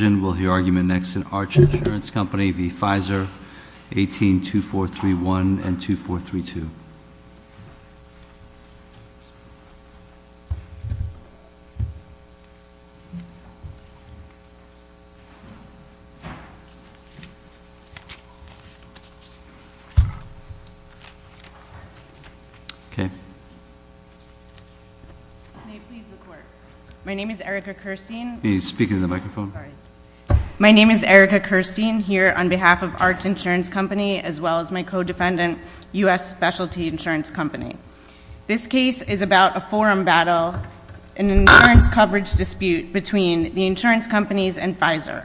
182431 and 2432. Okay. My name is Erica Kirstein. Can you speak into the microphone? Sorry. My name is Erica Kirstein. My name is Erica Kirstein, here on behalf of Arct Insurance Company, as well as my co-defendant, U.S. Specialty Insurance Company. This case is about a forum battle, an insurance coverage dispute between the insurance companies and Pfizer.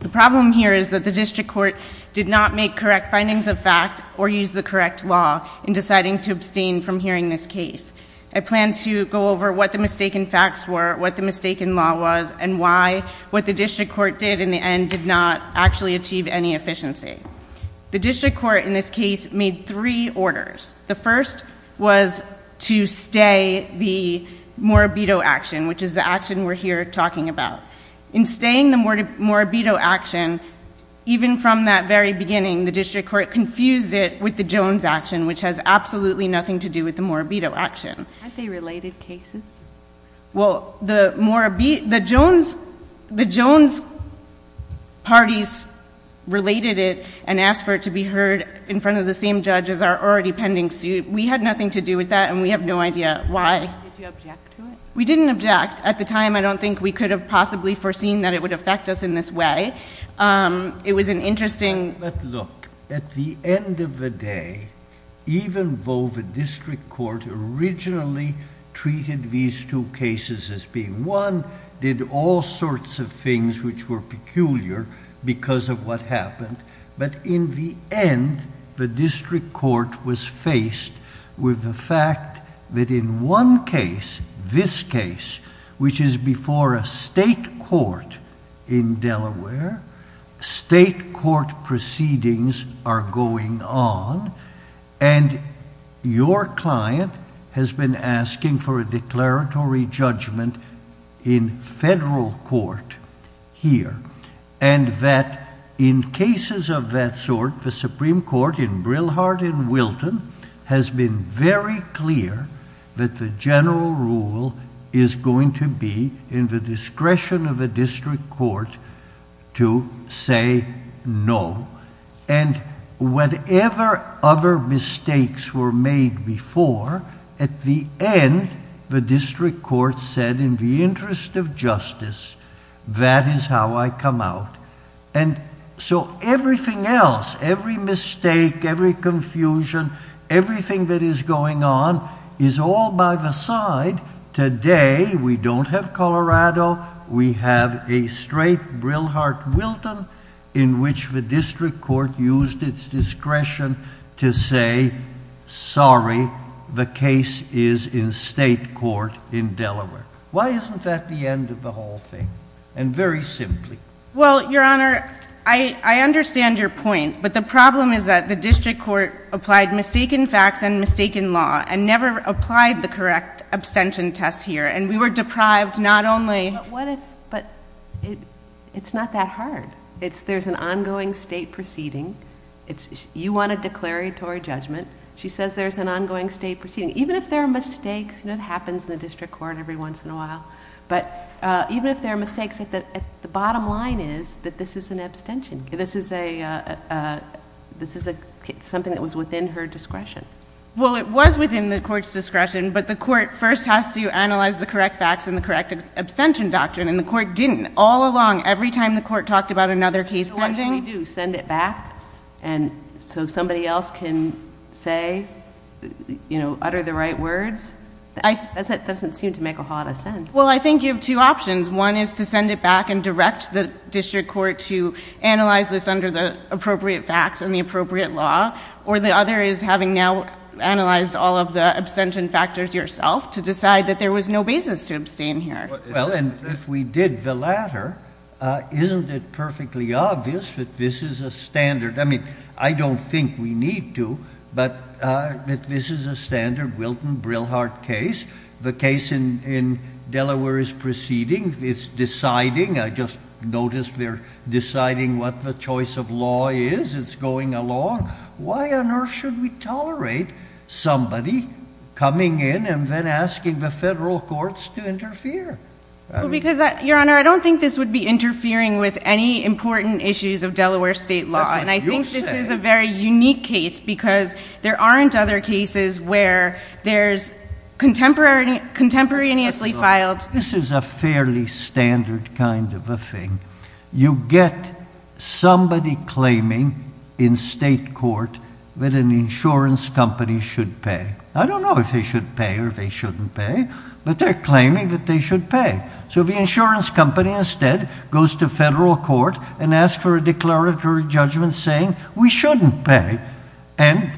The problem here is that the district court did not make correct findings of fact or use the correct law in deciding to abstain from hearing this case. I plan to go over what the mistaken facts were, what the mistaken law was, and why, what the district court did in the end did not actually achieve any efficiency. The district court, in this case, made three orders. The first was to stay the Morabito action, which is the action we're here talking about. In staying the Morabito action, even from that very beginning, the district court confused it with the Jones action, which has absolutely nothing to do with the Morabito action. Aren't they related cases? Well, the Jones parties related it and asked for it to be heard in front of the same judge as our already pending suit. We had nothing to do with that, and we have no idea why. Did you object to it? We didn't object. At the time, I don't think we could have possibly foreseen that it would affect us in this way. It was an interesting... But look, at the end of the day, even though the district court originally treated these two cases as being one, did all sorts of things which were peculiar because of what happened, but in the end, the district court was faced with the fact that in one case, this case, which is before a state court in Delaware, state court proceedings are going on, and your client has been asking for a declaratory judgment in federal court here, and that in cases of that sort, the Supreme Court in Brillhart in Wilton has been very clear that the general rule is going to be in the discretion of the district court to say no, and whatever other mistakes were made before, at the end, the district court said in the interest of justice, that is how I come out, and so everything else, every mistake, every confusion, everything that is going on is all by the side. Today, we don't have Colorado. We have a straight Brillhart-Wilton in which the district court used its discretion to say, sorry, the case is in state court in Delaware. Why isn't that the end of the whole thing? And very simply. Well, Your Honor, I understand your point, but the problem is that the district court applied mistaken facts and mistaken law, and never applied the correct abstention test here, and we were deprived not only... But what if... but it's not that hard. There's an ongoing state proceeding. You want a declaratory judgment. She says there's an ongoing state proceeding. Even if there are mistakes, and it happens in the district court every once in a while, but even if there are mistakes, the bottom line is that this is an abstention case. This is a... this is something that was within her discretion. Well, it was within the court's discretion, but the court first has to analyze the correct facts and the correct abstention doctrine, and the court didn't all along. Every time the court talked about another case pending... So what should we do? Send it back so somebody else can say, you know, utter the right words? That doesn't seem to make a whole lot of sense. Well, I think you have two options. One is to send it back and direct the district court to analyze this under the appropriate facts and the appropriate law, or the other is having now analyzed all of the abstention factors yourself to decide that there was no basis to abstain here. Well, and if we did the latter, isn't it perfectly obvious that this is a standard... I mean, I don't think we need to, but that this is a standard Wilton-Brilhart case. The case in Delaware is proceeding. It's deciding. I just noticed they're deciding what the choice of law is. It's going along. Why on earth should we tolerate somebody coming in and then asking the federal courts to interfere? Well, because, Your Honor, I don't think this would be interfering with any important issues of Delaware state law. That's what you say. This is a very unique case because there aren't other cases where there's contemporaneously filed... This is a fairly standard kind of a thing. You get somebody claiming in state court that an insurance company should pay. I don't know if they should pay or they shouldn't pay, but they're claiming that they should pay. So the insurance company instead goes to federal court and asks for a declaratory judgment saying we shouldn't pay. And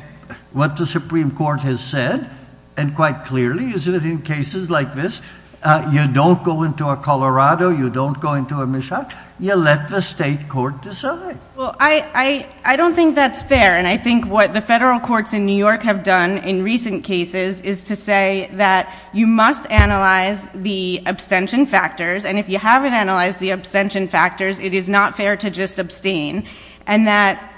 what the Supreme Court has said, and quite clearly, is that in cases like this, you don't go into a Colorado, you don't go into a Michoud, you let the state court decide. Well, I don't think that's fair, and I think what the federal courts in New York have done in recent cases is to say that you must analyze the abstention factors, and if you haven't analyzed the abstention factors, it is not fair to just abstain. And that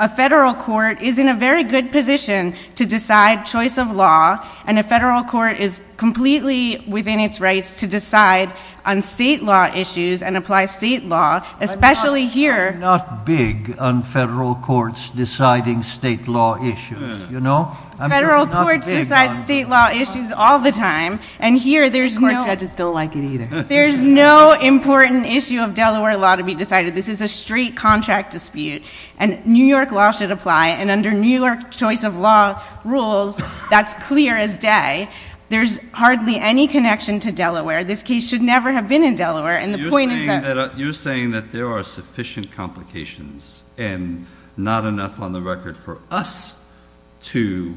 a federal court is in a very good position to decide choice of law, and a federal court is completely within its rights to decide on state law issues and apply state law, especially here... I'm not big on federal courts deciding state law issues, you know? Federal courts decide state law issues all the time, and here there's no... And court judges don't like it either. There's no important issue of Delaware law to be decided. This is a straight contract dispute, and New York law should apply, and under New York choice of law rules, that's clear as day. There's hardly any connection to Delaware. This case should never have been in Delaware, and the point is that... You're saying that there are sufficient complications and not enough on the record for us to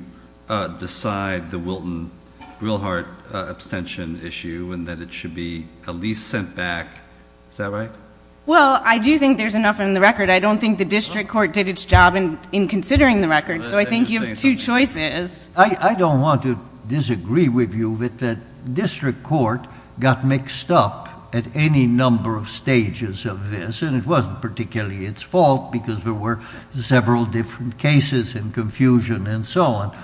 decide the Wilton-Grillhart abstention issue, and that it should be at least sent back, is that right? Well, I do think there's enough on the record. I don't think the district court did its job in considering the record, so I think you have two choices. I don't want to disagree with you that the district court got mixed up at any number of stages of this, and it wasn't particularly its fault because there were several different cases and confusion and so on,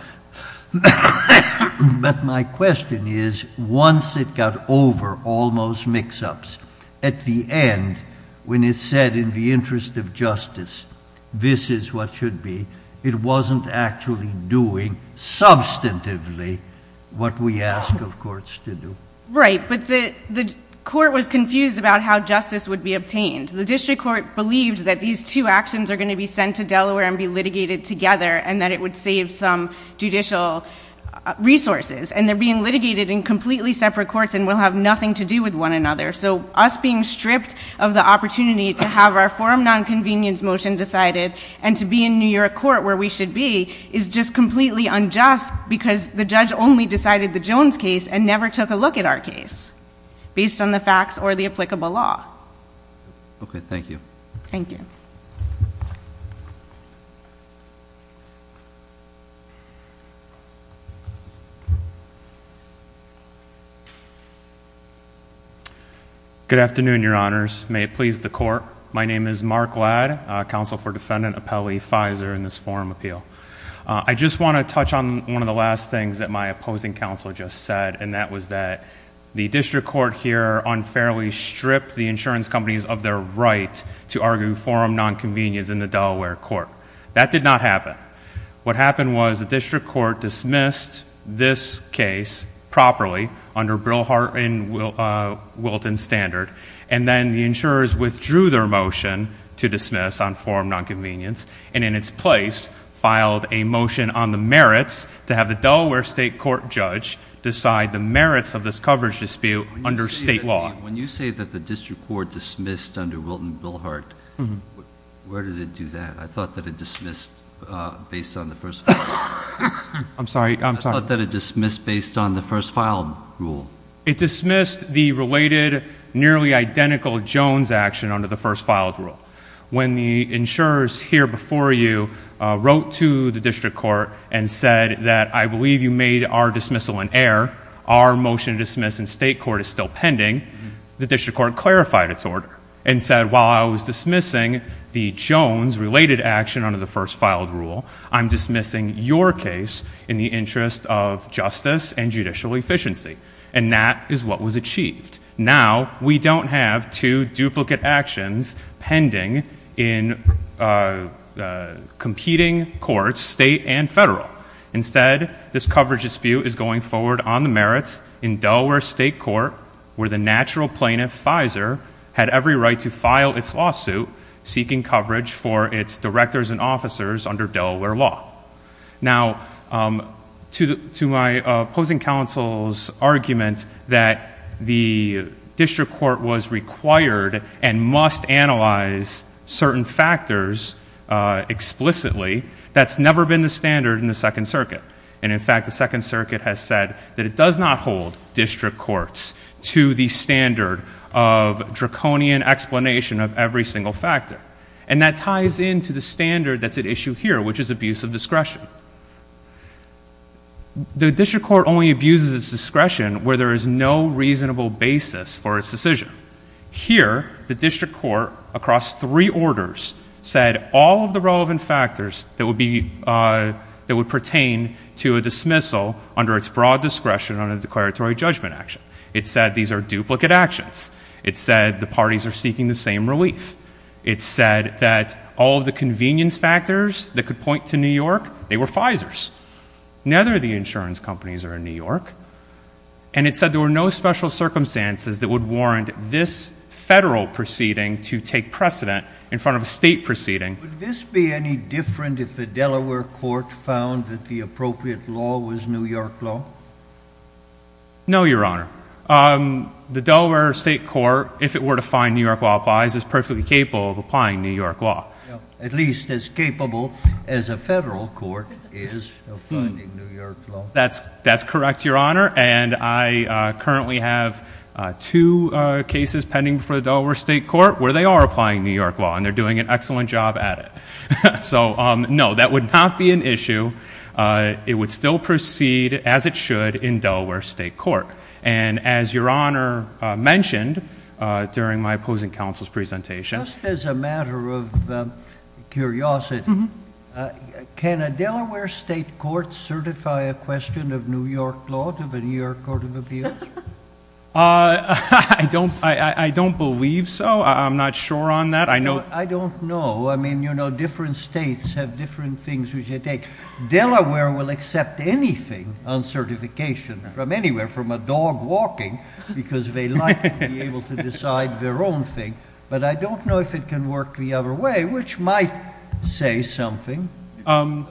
but my question is, once it got over all those mix-ups, at the end, when it said in the interest of justice, this is what should be, it wasn't actually doing substantively what we ask of courts to do. Right, but the court was confused about how justice would be obtained. The district court believed that these two actions are going to be sent to Delaware and be litigated together and that it would save some judicial resources, and they're being litigated in completely separate courts and will have nothing to do with one another, so us being stripped of the opportunity to have our forum nonconvenience motion decided and to be in New York court where we should be is just completely unjust because the judge only decided the Jones case and never took a look at our case based on the facts or the applicable law. Okay, thank you. Thank you. Good afternoon, your honors. May it please the court. My name is Mark Ladd, counsel for defendant Apelli Fizer in this forum appeal. I just want to touch on one of the last things that my opposing counsel just said, and that was that the district court here unfairly stripped the insurance companies of their right to argue forum nonconvenience in the Delaware court. That did not happen. What happened was the district court dismissed this case properly under Brillhart and Wilton standard, and then the insurers withdrew their motion to dismiss on forum nonconvenience and in its place filed a motion on the merits to have the Delaware state court judge decide the merits of this coverage dispute under state law. When you say that the district court dismissed under Wilton, Bill Hart, where did it do that? I thought that it dismissed based on the first, I'm sorry, I'm sorry that it dismissed based on the first file rule. It dismissed the related nearly identical Jones action under the first filed rule. When the insurers here before you wrote to the district court and said that I believe you made our dismissal an error, our motion to dismiss in state court is still pending, the district court clarified its order and said, while I was dismissing the Jones related action under the first filed rule, I'm dismissing your case in the interest of justice and judicial efficiency, and that is what was achieved. Now we don't have two duplicate actions pending in competing courts, state and federal. Instead, this coverage dispute is going forward on the merits in Delaware state court where the natural plaintiff, Fizer, had every right to file its lawsuit seeking coverage for its directors and officers under Delaware law. Now to my opposing counsel's argument that the district court was required and must analyze certain factors explicitly, that's never been the standard in the second circuit, and in fact the second circuit has said that it does not hold district courts to the standard of draconian explanation of every single factor, and that ties into the standard that's at issue here, which is abuse of discretion. The district court only abuses its discretion where there is no reasonable basis for its decision. Here, the district court, across three orders, said all of the relevant factors that would pertain to a dismissal under its broad discretion under declaratory judgment action. It said these are duplicate actions. It said the parties are seeking the same relief. It said that all of the convenience factors that could point to New York, they were Fizer's. Neither of the insurance companies are in New York, and it said there were no special circumstances that would warrant this federal proceeding to take precedent in front of a state proceeding. Would this be any different if the Delaware court found that the appropriate law was New York law? No, Your Honor. The Delaware state court, if it were to find New York law applies, is perfectly capable of applying New York law. At least as capable as a federal court is of finding New York law. That's correct, Your Honor, and I currently have two cases pending before the Delaware state court where they are applying New York law, and they're doing an excellent job at it. So, no, that would not be an issue. It would still proceed as it should in Delaware state court, and as Your Honor mentioned during my opposing counsel's presentation... I don't believe so. I'm not sure on that. I don't know. I mean, you know, different states have different things which they take. Delaware will accept anything on certification from anywhere, from a dog walking, because they like to be able to decide their own thing. But I don't know if it can work the other way, which might say something. I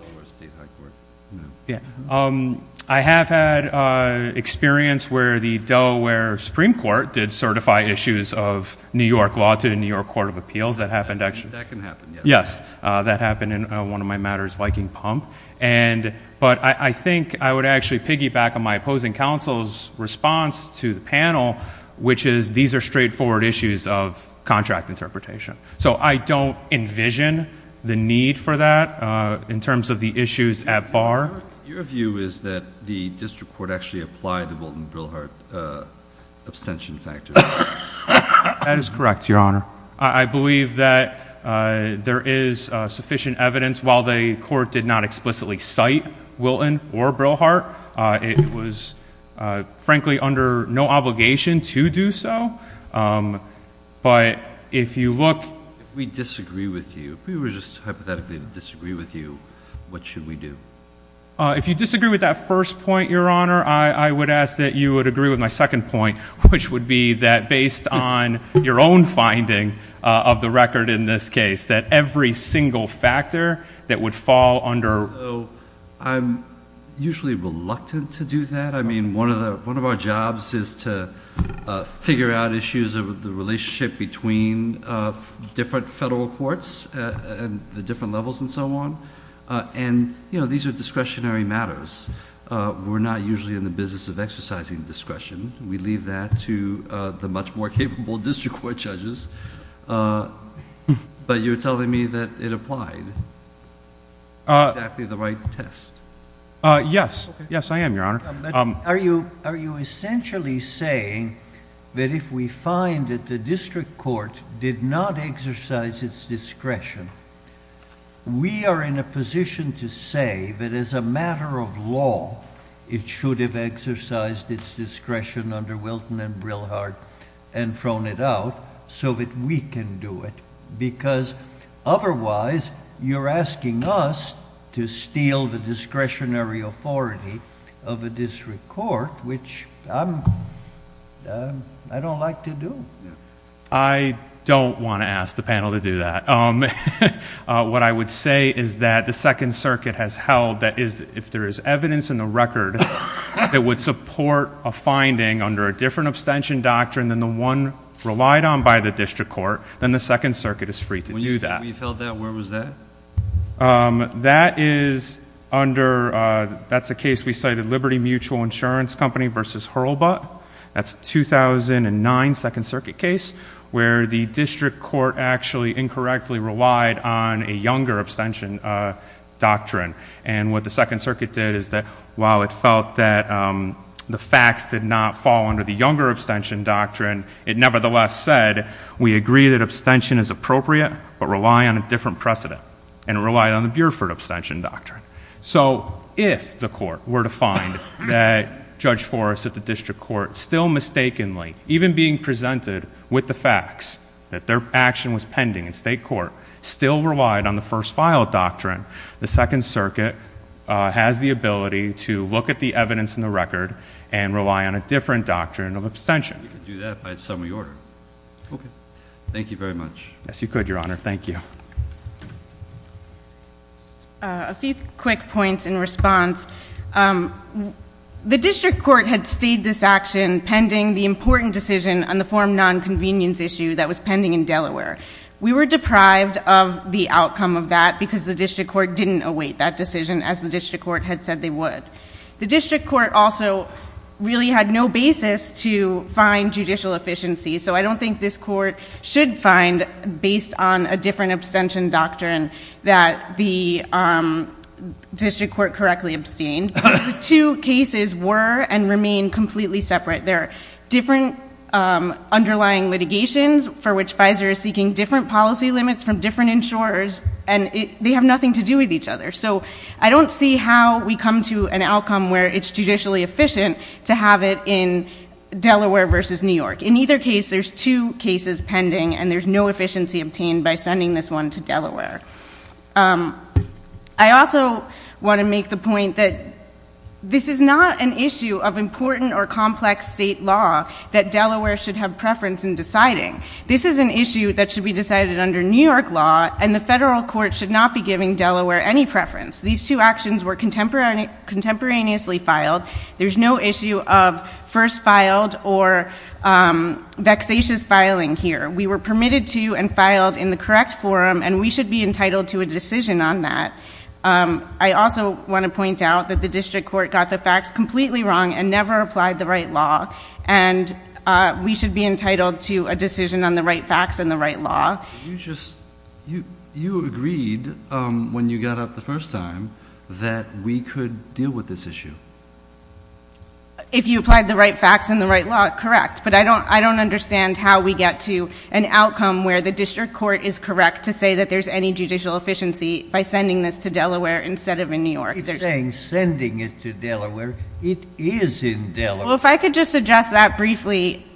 have had experience where the Delaware Supreme Court did certify issues of New York law to the New York Court of Appeals. That happened... That can happen, yes. Yes. That happened in one of my matters, Viking Pump. But I think I would actually piggyback on my opposing counsel's response to the panel, which is these are straightforward issues of contract interpretation. So I don't envision the need for that in terms of the issues at bar. Your view is that the district court actually applied the Wilton-Brillhart abstention factor? That is correct, Your Honor. I believe that there is sufficient evidence. While the court did not explicitly cite Wilton or Brillhart, it was frankly under no obligation to do so. But if you look... If we disagree with you, if we were just hypothetically to disagree with you, what should we do? If you disagree with that first point, Your Honor, I would ask that you would agree with my second point, which would be that based on your own finding of the record in this case, that every single factor that would fall under... So I'm usually reluctant to do that. I mean, one of our jobs is to figure out issues of the relationship between different federal courts and the different levels and so on. And these are discretionary matters. We're not usually in the business of exercising discretion. We leave that to the much more capable district court judges. But you're telling me that it applied, exactly the right test. Yes. Yes, I am, Your Honor. But are you essentially saying that if we find that the district court did not exercise its discretion, we are in a position to say that as a matter of law, it should have exercised its discretion under Wilton and Brillhart and thrown it out so that we can do it? Because otherwise, you're asking us to steal the discretionary authority of a district court, which I don't like to do. I don't want to ask the panel to do that. What I would say is that the Second Circuit has held that if there is evidence in the record that would support a finding under a different abstention doctrine than the one relied on by the district court, then the Second Circuit is free to do that. When you said you held that, where was that? That is under, that's a case we cited, Liberty Mutual Insurance Company versus Hurlbutt. That's a 2009 Second Circuit case where the district court actually incorrectly relied on a younger abstention doctrine. And what the Second Circuit did is that while it felt that the facts did not fall under the younger abstention doctrine, it nevertheless said, we agree that abstention is appropriate but rely on a different precedent and relied on the Buford abstention doctrine. So if the court were to find that Judge Forrest at the district court still mistakenly, even being presented with the facts that their action was pending in state court, still relied on the first file doctrine, the Second Circuit has the ability to look at the evidence in the record and rely on a different doctrine of abstention. You could do that by a summary order. Okay. Thank you very much. Yes, you could, Your Honor. Thank you. A few quick points in response. The district court had stayed this action pending the important decision on the form nonconvenience issue that was pending in Delaware. We were deprived of the outcome of that because the district court didn't await that decision as the district court had said they would. The district court also really had no basis to find judicial efficiency. So I don't think this court should find, based on a different abstention doctrine, that the district court correctly abstained because the two cases were and remain completely separate. They're different underlying litigations for which Pfizer is seeking different policy limits from different insurers and they have nothing to do with each other. So I don't see how we come to an outcome where it's judicially efficient to have it in Delaware versus New York. In either case, there's two cases pending and there's no efficiency obtained by sending this one to Delaware. I also want to make the point that this is not an issue of important or complex state law that Delaware should have preference in deciding. This is an issue that should be decided under New York law and the federal court should not be giving Delaware any preference. These two actions were contemporaneously filed. There's no issue of first filed or vexatious filing here. We were permitted to and filed in the correct forum and we should be entitled to a decision on that. I also want to point out that the district court got the facts completely wrong and never applied the right law and we should be entitled to a decision on the right facts and the right law. You just, you agreed when you got up the first time that we could deal with this issue. If you applied the right facts and the right law, correct, but I don't understand how we get to an outcome where the district court is correct to say that there's any judicial efficiency by sending this to Delaware instead of in New York. It's saying sending it to Delaware. It is in Delaware. Well, if I could just address that briefly,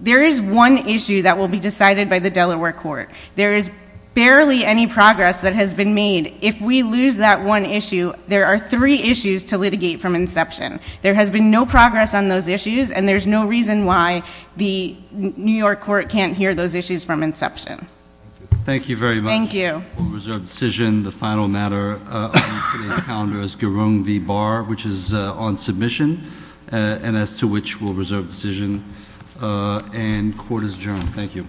there is one issue that will be decided by the Delaware court. There is barely any progress that has been made. If we lose that one issue, there are three issues to litigate from inception. There has been no progress on those issues and there's no reason why the New York court can't hear those issues from inception. Thank you very much. Thank you. We'll reserve decision. The final matter on today's calendar is Garung v. Barr, which is on submission and as to which we'll reserve decision and court is adjourned. Thank you.